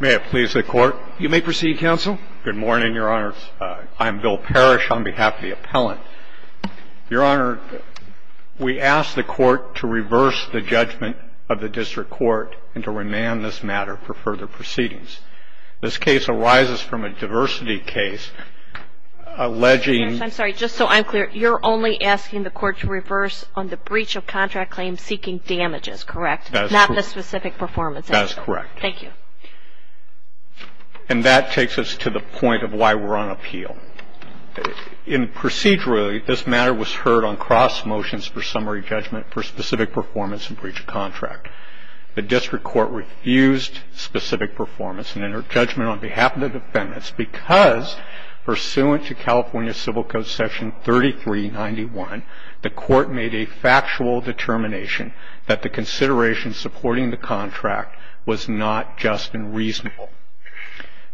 May it please the Court. You may proceed, Counsel. Good morning, Your Honor. I'm Bill Parrish on behalf of the appellant. Your Honor, we ask the Court to reverse the judgment of the District Court and to remand this matter for further proceedings. This case arises from a diversity case alleging... That is correct. Thank you. And that takes us to the point of why we're on appeal. In procedurally, this matter was heard on cross motions for summary judgment for specific performance and breach of contract. The District Court refused specific performance and inter-judgment on behalf of the defendants because, pursuant to California Civil Code Section 3391, the Court made a factual determination to the District Court that this matter was heard on cross motions for summary judgment for specific performance and breach of contract.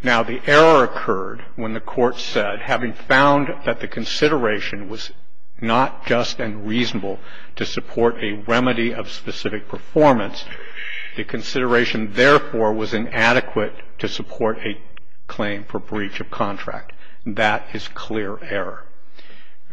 Now, the error occurred when the Court said, having found that the consideration was not just and reasonable to support a remedy of specific performance, the consideration, therefore, was inadequate to support a claim for breach of contract. That is clear error.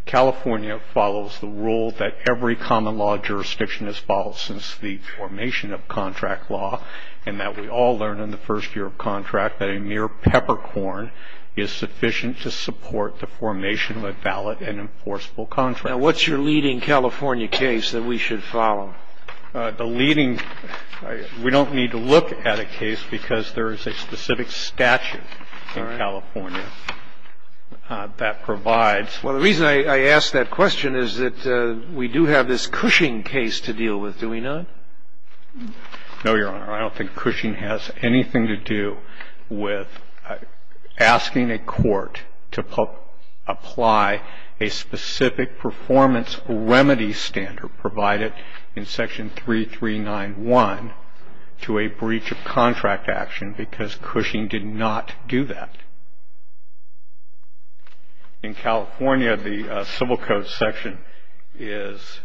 California follows the rule that every common law jurisdiction has followed since the formation of contract law, and that we all learned in the first year of contract that a mere peppercorn is sufficient to support the formation of a valid and enforceable contract. Now, what's your leading California case that we should follow? The leading – we don't need to look at a case because there is a specific statute in California that provides... Well, the reason I ask that question is that we do have this Cushing case to deal with, do we not? No, Your Honor. I don't think Cushing has anything to do with asking a court to apply a specific performance remedy standard provided in Section 3391 to a breach of contract action because Cushing did not do that. In California, the Civil Code section is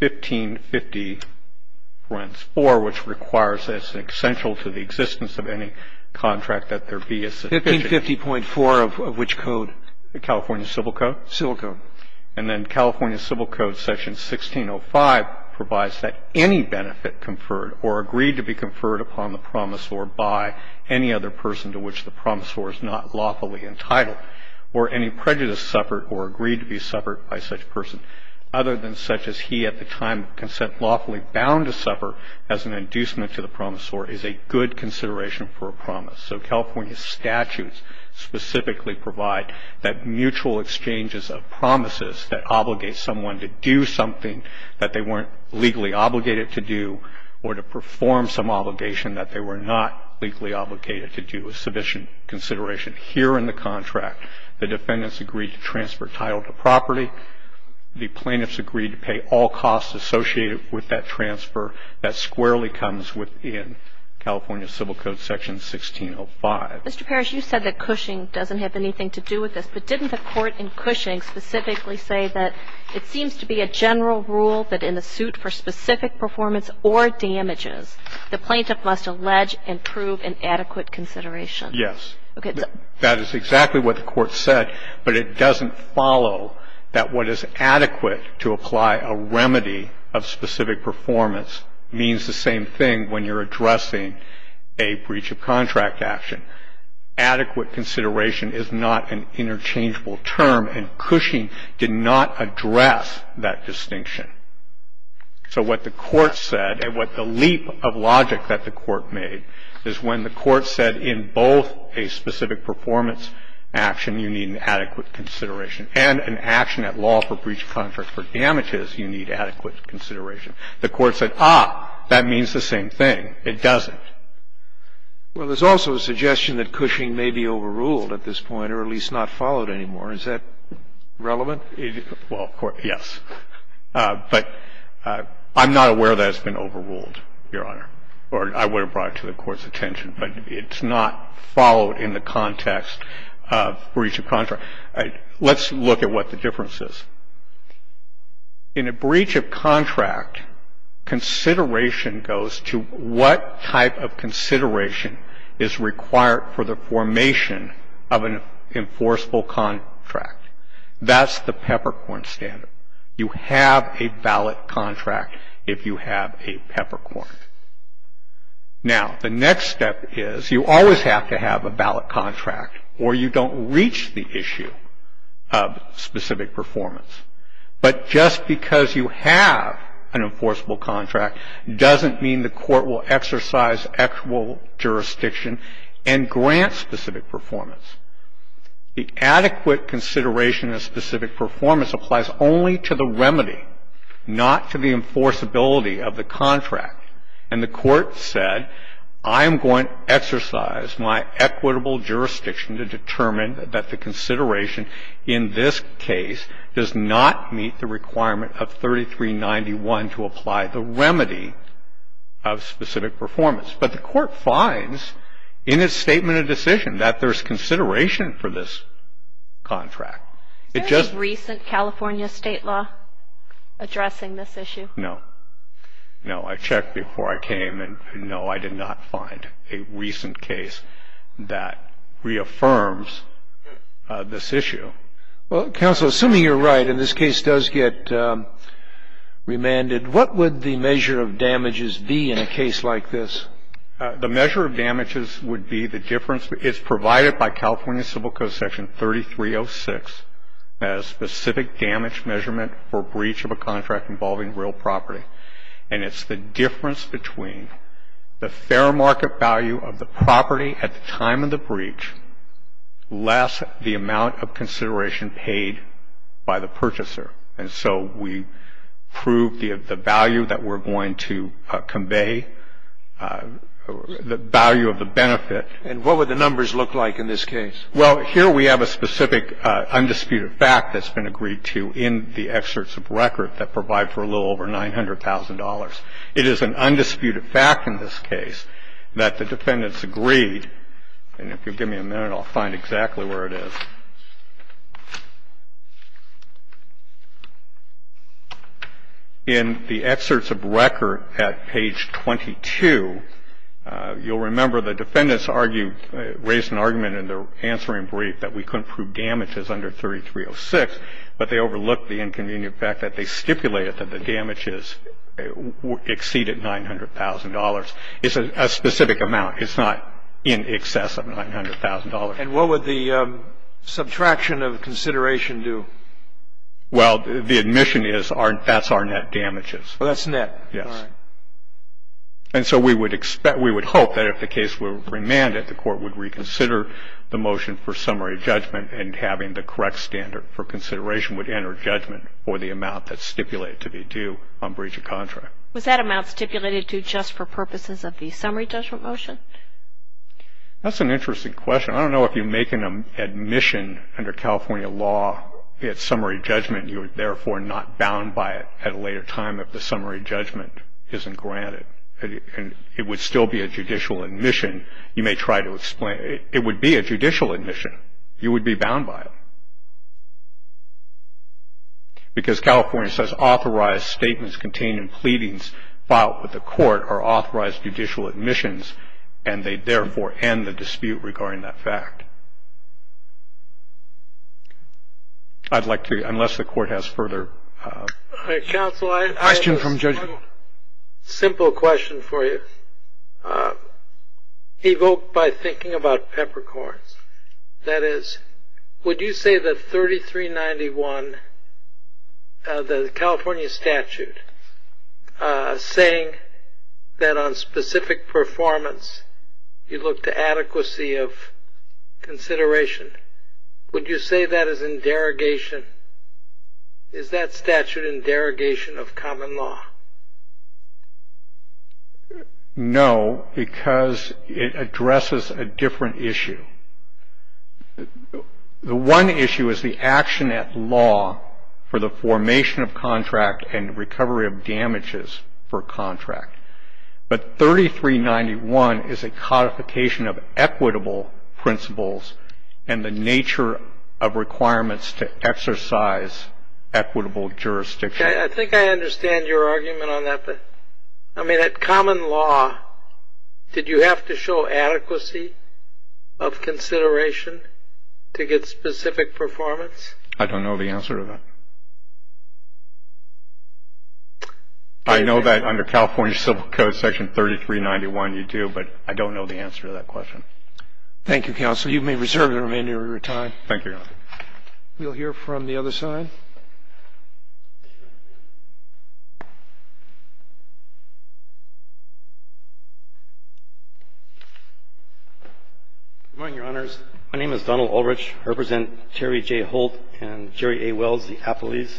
1550.4, which requires that it's essential to the existence of any contract that there be a specific... 1550.4 of which code? The California Civil Code. Civil Code. And then California Civil Code section 1605 provides that any benefit conferred or agreed to be conferred upon the promisor by any other person to which the promisor is not lawfully entitled or any prejudice suffered or agreed to be suffered by such person other than such as he at the time of consent lawfully bound to suffer as an inducement to the promisor is a good consideration for a promise. So California statutes specifically provide that mutual exchanges of promises that obligate someone to do something that they weren't legally obligated to do or to perform some obligation that they were not legally obligated to do is sufficient consideration here in the contract. The defendants agreed to transfer title to property. The plaintiffs agreed to pay all costs associated with that transfer. That squarely comes within California Civil Code section 1605. Mr. Parrish, you said that Cushing doesn't have anything to do with this. But didn't the court in Cushing specifically say that it seems to be a general rule that in a suit for specific performance or damages, the plaintiff must allege and prove an adequate consideration? Yes. That is exactly what the court said. But it doesn't follow that what is adequate to apply a remedy of specific performance means the same thing when you're addressing a breach of contract action. Adequate consideration is not an interchangeable term. And Cushing did not address that distinction. So what the court said and what the leap of logic that the court made is when the court said in both a specific performance action you need an adequate consideration and an action at law for breach of contract for damages you need adequate consideration. The court said, ah, that means the same thing. It doesn't. Well, there's also a suggestion that Cushing may be overruled at this point or at least not followed anymore. Is that relevant? Well, yes. But I'm not aware that it's been overruled, Your Honor. Or I would have brought it to the court's attention. But it's not followed in the context of breach of contract. Let's look at what the difference is. In a breach of contract, consideration goes to what type of consideration is required for the formation of an enforceable contract. That's the peppercorn standard. You have a ballot contract if you have a peppercorn. Now, the next step is you always have to have a ballot contract or you don't reach the issue of specific performance. But just because you have an enforceable contract doesn't mean the court will exercise actual jurisdiction and grant specific performance. The adequate consideration of specific performance applies only to the remedy, not to the enforceability of the contract. And the court said, I'm going to exercise my equitable jurisdiction to determine that the consideration in this case does not meet the requirement of 3391 to apply the remedy of specific performance. But the court finds in its statement of decision that there's consideration for this contract. Is there a recent California state law addressing this issue? No. No. I checked before I came and, no, I did not find a recent case that reaffirms this issue. Well, counsel, assuming you're right and this case does get remanded, what would the measure of damages be in a case like this? The measure of damages would be the difference. It's provided by California Civil Code Section 3306 as specific damage measurement for breach of a contract involving real property. And it's the difference between the fair market value of the property at the time of the breach less the amount of consideration paid by the purchaser. And so we prove the value that we're going to convey, the value of the benefit. And what would the numbers look like in this case? Well, here we have a specific undisputed fact that's been agreed to in the excerpts of record that provide for a little over $900,000. It is an undisputed fact in this case that the defendants agreed, and if you'll give me a minute, I'll find exactly where it is. In the excerpts of record at page 22, you'll remember the defendants argue, raised an argument in their answering brief that we couldn't prove damages under 3306, but they overlooked the inconvenient fact that they stipulated that the damages exceed at $900,000. It's a specific amount. It's not in excess of $900,000. And what would the subtraction of consideration do? Well, the admission is that's our net damages. Oh, that's net. Yes. All right. And so we would hope that if the case were remanded, the Court would reconsider the motion for summary judgment and having the correct standard for consideration would enter judgment for the amount that's stipulated to be due on breach of contract. Was that amount stipulated to just for purposes of the summary judgment motion? That's an interesting question. I don't know if you're making an admission under California law, it's summary judgment, you're therefore not bound by it at a later time if the summary judgment isn't granted. It would still be a judicial admission. You may try to explain it. It would be a judicial admission. You would be bound by it. Because California says authorized statements containing pleadings filed with the court are authorized judicial admissions, and they therefore end the dispute regarding that fact. I'd like to, unless the Court has further questions. Counsel, I have a simple question for you, evoked by thinking about peppercorns. That is, would you say that 3391, the California statute, saying that on specific performance you look to adequacy of consideration, would you say that is in derogation? Is that statute in derogation of common law? No, because it addresses a different issue. The one issue is the action at law for the formation of contract and recovery of damages for contract. But 3391 is a codification of equitable principles and the nature of requirements to exercise equitable jurisdiction. I think I understand your argument on that. I mean, at common law, did you have to show adequacy of consideration to get specific performance? I don't know the answer to that. I know that under California Civil Code Section 3391 you do, but I don't know the answer to that question. Thank you, Counsel. Thank you, Your Honor. We'll hear from the other side. Good morning, Your Honors. My name is Donald Ulrich. I represent Jerry J. Holt and Jerry A. Wells, the appellees.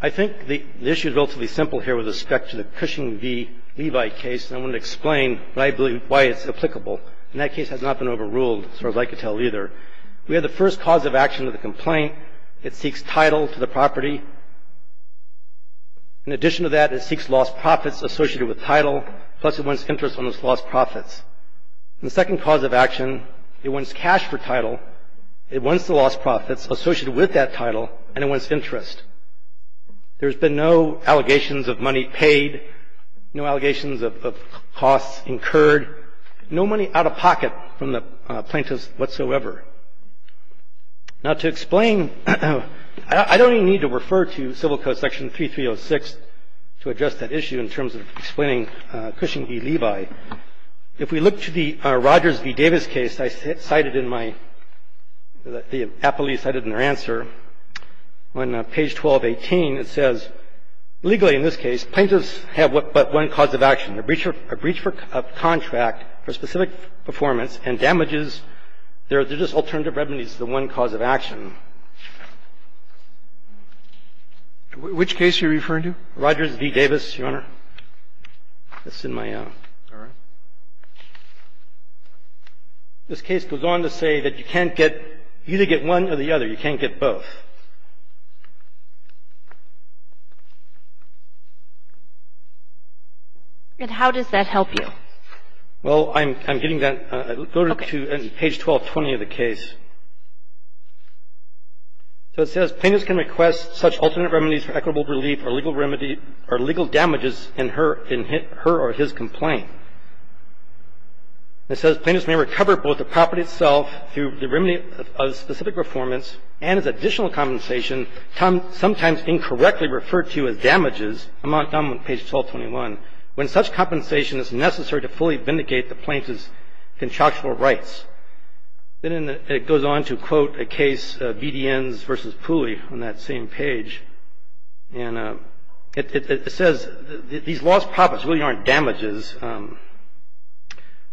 I think the issue is relatively simple here with respect to the Cushing v. Levi case, and I want to explain why it's applicable. In that case, it has not been overruled, as far as I can tell, either. We have the first cause of action of the complaint. It seeks title to the property. In addition to that, it seeks lost profits associated with title, plus it wants interest on those lost profits. The second cause of action, it wants cash for title, it wants the lost profits associated with that title, and it wants interest. There's been no allegations of money paid, no allegations of costs incurred, no money out of pocket from the plaintiffs whatsoever. Now, to explain, I don't even need to refer to Civil Code Section 3306 to address that issue in terms of explaining Cushing v. Levi. If we look to the Rogers v. Davis case I cited in my – the appellees cited in their answer, on page 1218, it says, legally in this case, plaintiffs have but one cause of action, a breach of contract for specific performance and damages. There's just alternative remedies to the one cause of action. Rogers v. Davis, Your Honor. It's in my – this case goes on to say that you can't get either get one or the other. You can't get both. And how does that help you? Well, I'm getting that. Go to page 1220 of the case. So it says, plaintiffs can request such alternate remedies for equitable relief or legal remedy – or legal damages in her or his complaint. It says, plaintiffs may recover both the property itself through the remedy of specific performance and as additional compensation, sometimes incorrectly referred to as damages. I'm on page 1221. When such compensation is necessary to fully vindicate the plaintiff's contractual rights. Then it goes on to quote a case, BDNs v. Pooley, on that same page. And it says, these lost profits really aren't damages.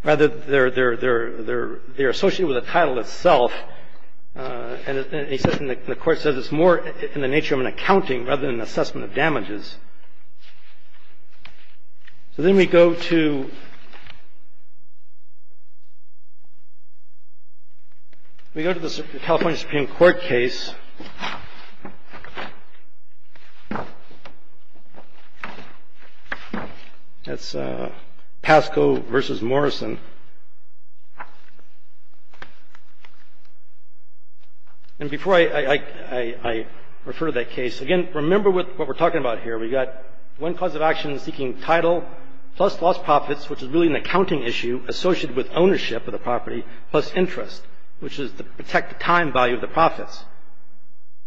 Rather, they're associated with the title itself. And the court says it's more in the nature of an accounting rather than an assessment of damages. So then we go to the California Supreme Court case. That's Pasco v. Morrison. And before I refer to that case, again, remember what we're talking about here. We've got one cause of action seeking title plus lost profits, which is really an accounting issue associated with ownership of the property, plus interest, which is to protect the time value of the profits.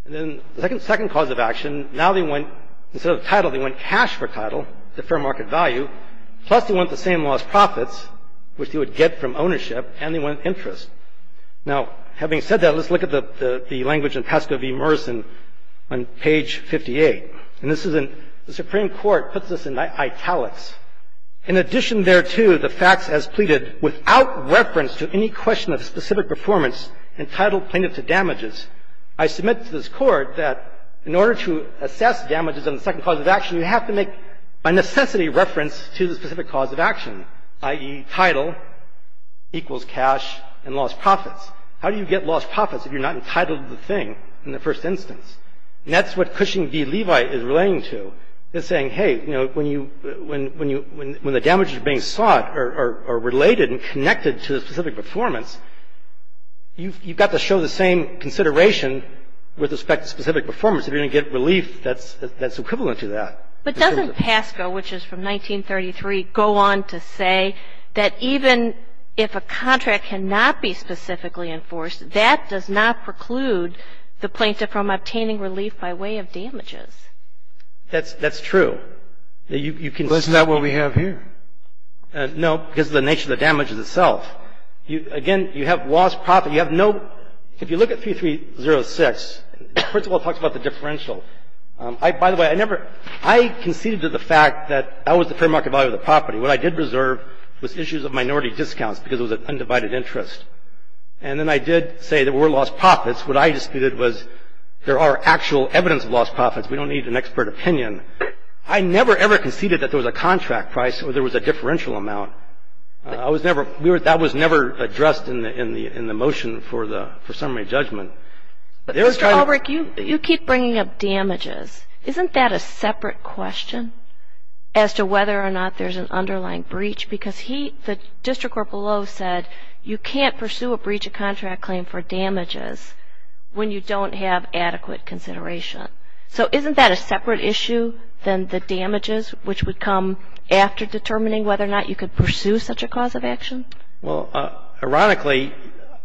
And then the second cause of action, now they want, instead of title, they want cash for title, the fair market value, plus they want the same lost profits, which they would get from ownership, and they want interest. Now, having said that, let's look at the language in Pasco v. Morrison on page 58. And this is in, the Supreme Court puts this in italics. In addition thereto, the facts as pleaded, without reference to any question of specific performance, entitle plaintiff to damages. I submit to this Court that in order to assess damages on the second cause of action, you have to make, by necessity, reference to the specific cause of action, i.e., title equals cash and lost profits. How do you get lost profits if you're not entitled to the thing in the first instance? And that's what Cushing v. Levi is relating to. They're saying, hey, you know, when you, when the damages being sought are related and connected to the specific performance, you've got to show the same consideration with respect to specific performance. If you're going to get relief, that's equivalent to that. But doesn't Pasco, which is from 1933, go on to say that even if a contract cannot be specifically enforced, that does not preclude the plaintiff from obtaining relief by way of damages? That's true. Isn't that what we have here? No, because of the nature of the damages itself. Again, you have lost profit. You have no, if you look at 3306, first of all, it talks about the differential. By the way, I never, I conceded to the fact that that was the fair market value of the property. What I did reserve was issues of minority discounts because it was an undivided interest. And then I did say there were lost profits. What I disputed was there are actual evidence of lost profits. We don't need an expert opinion. I never, ever conceded that there was a contract price or there was a differential amount. I was never, that was never addressed in the motion for summary judgment. Mr. Albrecht, you keep bringing up damages. Isn't that a separate question as to whether or not there's an underlying breach? Because he, the district court below said you can't pursue a breach of contract claim for damages when you don't have adequate consideration. So isn't that a separate issue than the damages, which would come after determining whether or not you could pursue such a cause of action? Well, ironically,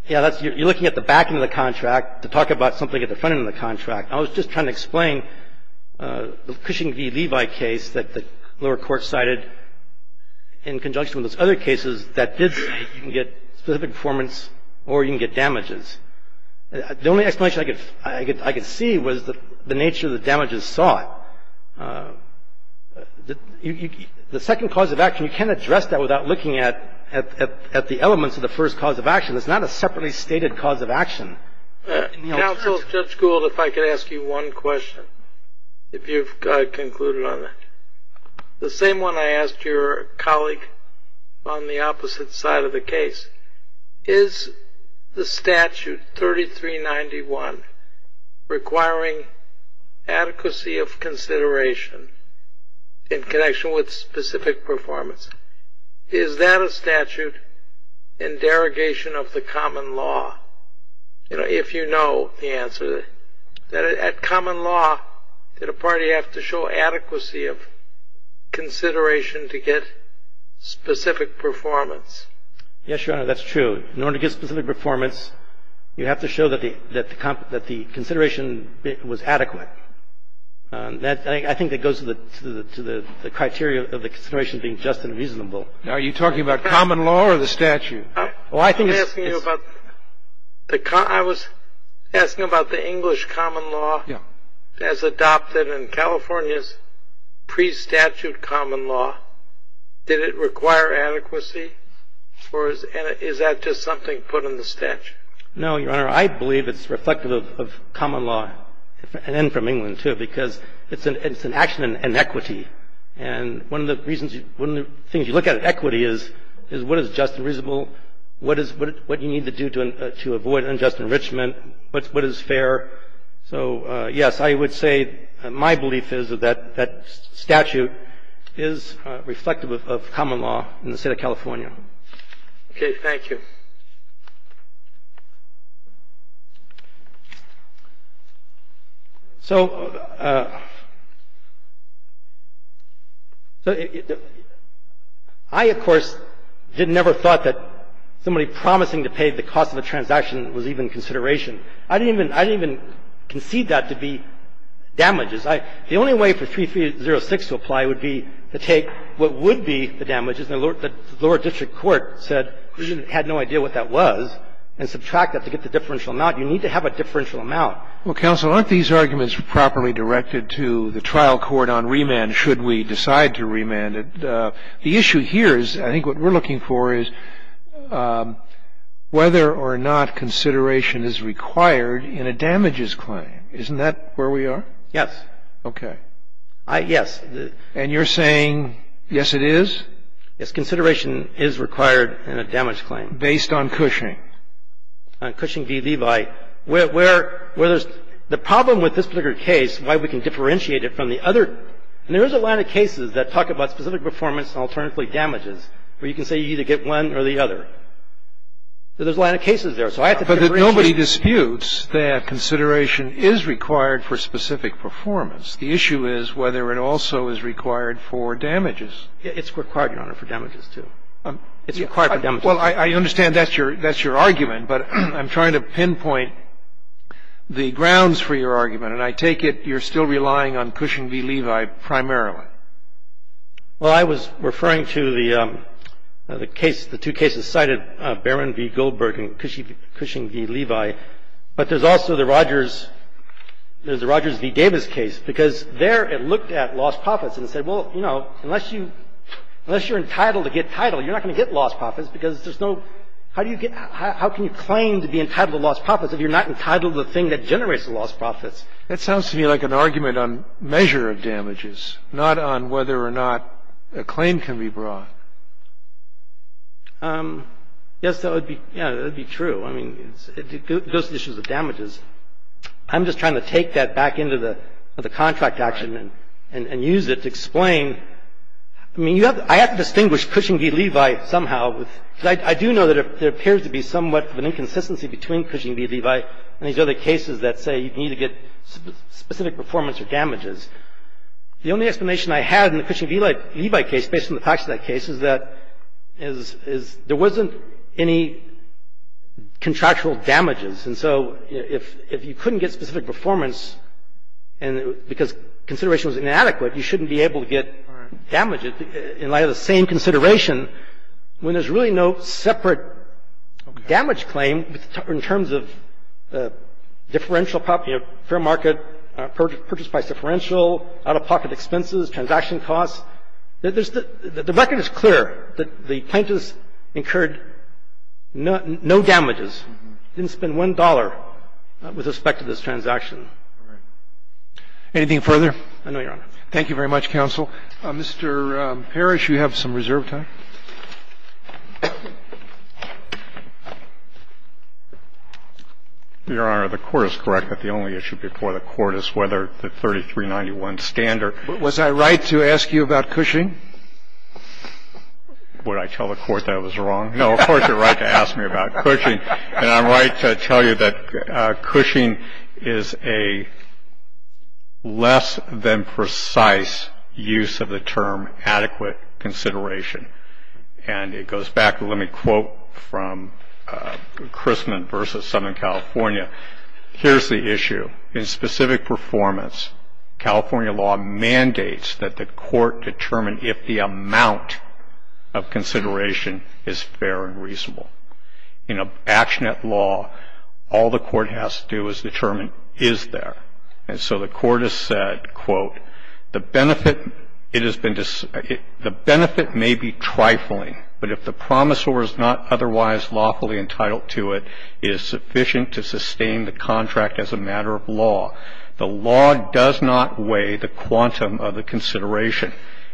yeah, that's, you're looking at the back end of the contract to talk about something at the front end of the contract. I was just trying to explain the Cushing v. Levi case that the lower court cited in conjunction with those other cases that did say you can get specific performance or you can get damages. The only explanation I could see was the nature of the damages sought. The second cause of action, you can't address that without looking at the elements of the first cause of action. It's not a separately stated cause of action. Counsel, Judge Gould, if I could ask you one question, if you've concluded on that. The same one I asked your colleague on the opposite side of the case. Is the statute 3391 requiring adequacy of consideration in connection with specific performance? Is that a statute in derogation of the common law? If you know the answer. At common law, did a party have to show adequacy of consideration to get specific performance? Yes, Your Honor, that's true. In order to get specific performance, you have to show that the consideration was adequate. I think that goes to the criteria of the consideration being just and reasonable. Are you talking about common law or the statute? I was asking about the English common law as adopted in California's pre-statute common law. Did it require adequacy or is that just something put in the statute? No, Your Honor. I believe it's reflective of common law and from England, too, because it's an action in equity. And one of the things you look at in equity is what is just and reasonable, what you need to do to avoid unjust enrichment, what is fair. So, yes, I would say my belief is that that statute is reflective of common law in the state of California. Okay. Thank you. So I, of course, never thought that somebody promising to pay the cost of a transaction was even consideration. I didn't even concede that to be damages. The only way for 3306 to apply would be to take what would be the damages. The lower district court said we had no idea what that was and subtract that to get the differential amount. You need to have a differential amount. Well, counsel, aren't these arguments properly directed to the trial court on remand should we decide to remand it? The issue here is I think what we're looking for is whether or not consideration is required in a damages claim. Isn't that where we are? Yes. Okay. Yes. And you're saying yes, it is? Yes. Consideration is required in a damage claim. Based on Cushing? On Cushing v. Levi, where there's the problem with this particular case, why we can differentiate it from the other. There is a line of cases that talk about specific performance and alternatively damages where you can say you either get one or the other. There's a line of cases there. So I have to differentiate. But nobody disputes that consideration is required for specific performance. The issue is whether it also is required for damages. It's required, Your Honor, for damages, too. It's required for damages. Well, I understand that's your argument. But I'm trying to pinpoint the grounds for your argument. And I take it you're still relying on Cushing v. Levi primarily. Well, I was referring to the case, the two cases cited, Barron v. Goldberg and Cushing v. Levi. But there's also the Rogers v. Davis case. Because there it looked at lost profits and said, well, you know, unless you're entitled to get title, you're not going to get lost profits because there's no – how do you get – how can you claim to be entitled to lost profits if you're not entitled to the thing that generates the lost profits? That sounds to me like an argument on measure of damages, not on whether or not a claim can be brought. Yes, that would be – yeah, that would be true. I mean, it goes to the issue of damages. I'm just trying to take that back into the contract action and use it to explain – I mean, I have to distinguish Cushing v. Levi somehow. I do know that there appears to be somewhat of an inconsistency between Cushing v. Levi and these other cases that say you need to get specific performance or damages. The only explanation I had in the Cushing v. Levi case, based on the facts of that case, is that there wasn't any contractual damages. And so if you couldn't get specific performance because consideration was inadequate, you shouldn't be able to get damages in light of the same consideration when there's really no separate damage claim in terms of differential – fair market purchase price differential, out-of-pocket expenses, transaction costs. The record is clear that the plaintiffs incurred no damages. They didn't spend $1 with respect to this transaction. Anything further? I know, Your Honor. Thank you very much, counsel. Mr. Parrish, you have some reserve time. Your Honor, the Court is correct that the only issue before the Court is whether the 3391 standard – Was I right to ask you about Cushing? Would I tell the Court that I was wrong? No, of course you're right to ask me about Cushing. And I'm right to tell you that Cushing is a less-than-precise use of the term adequate consideration. And it goes back – let me quote from Crisman v. Southern California. Here's the issue. In specific performance, California law mandates that the Court determine if the amount of consideration is fair and reasonable. In a bach net law, all the Court has to do is determine is there. And so the Court has said, quote, The benefit may be trifling, but if the promisor is not otherwise lawfully entitled to it, it is sufficient to sustain the contract as a matter of law. The law does not weigh the quantum of the consideration.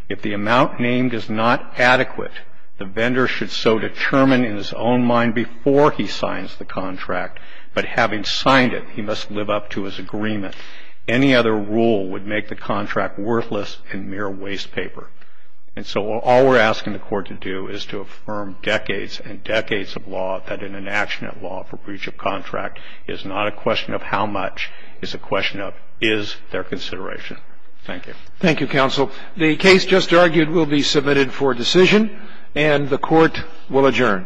If the amount named is not adequate, the vendor should so determine in his own mind before he signs the contract. But having signed it, he must live up to his agreement. Any other rule would make the contract worthless and mere waste paper. And so all we're asking the Court to do is to affirm decades and decades of law that in an action of law for breach of contract, it is not a question of how much, it's a question of is there consideration. Thank you. Thank you, counsel. The case just argued will be submitted for decision. And the Court will adjourn.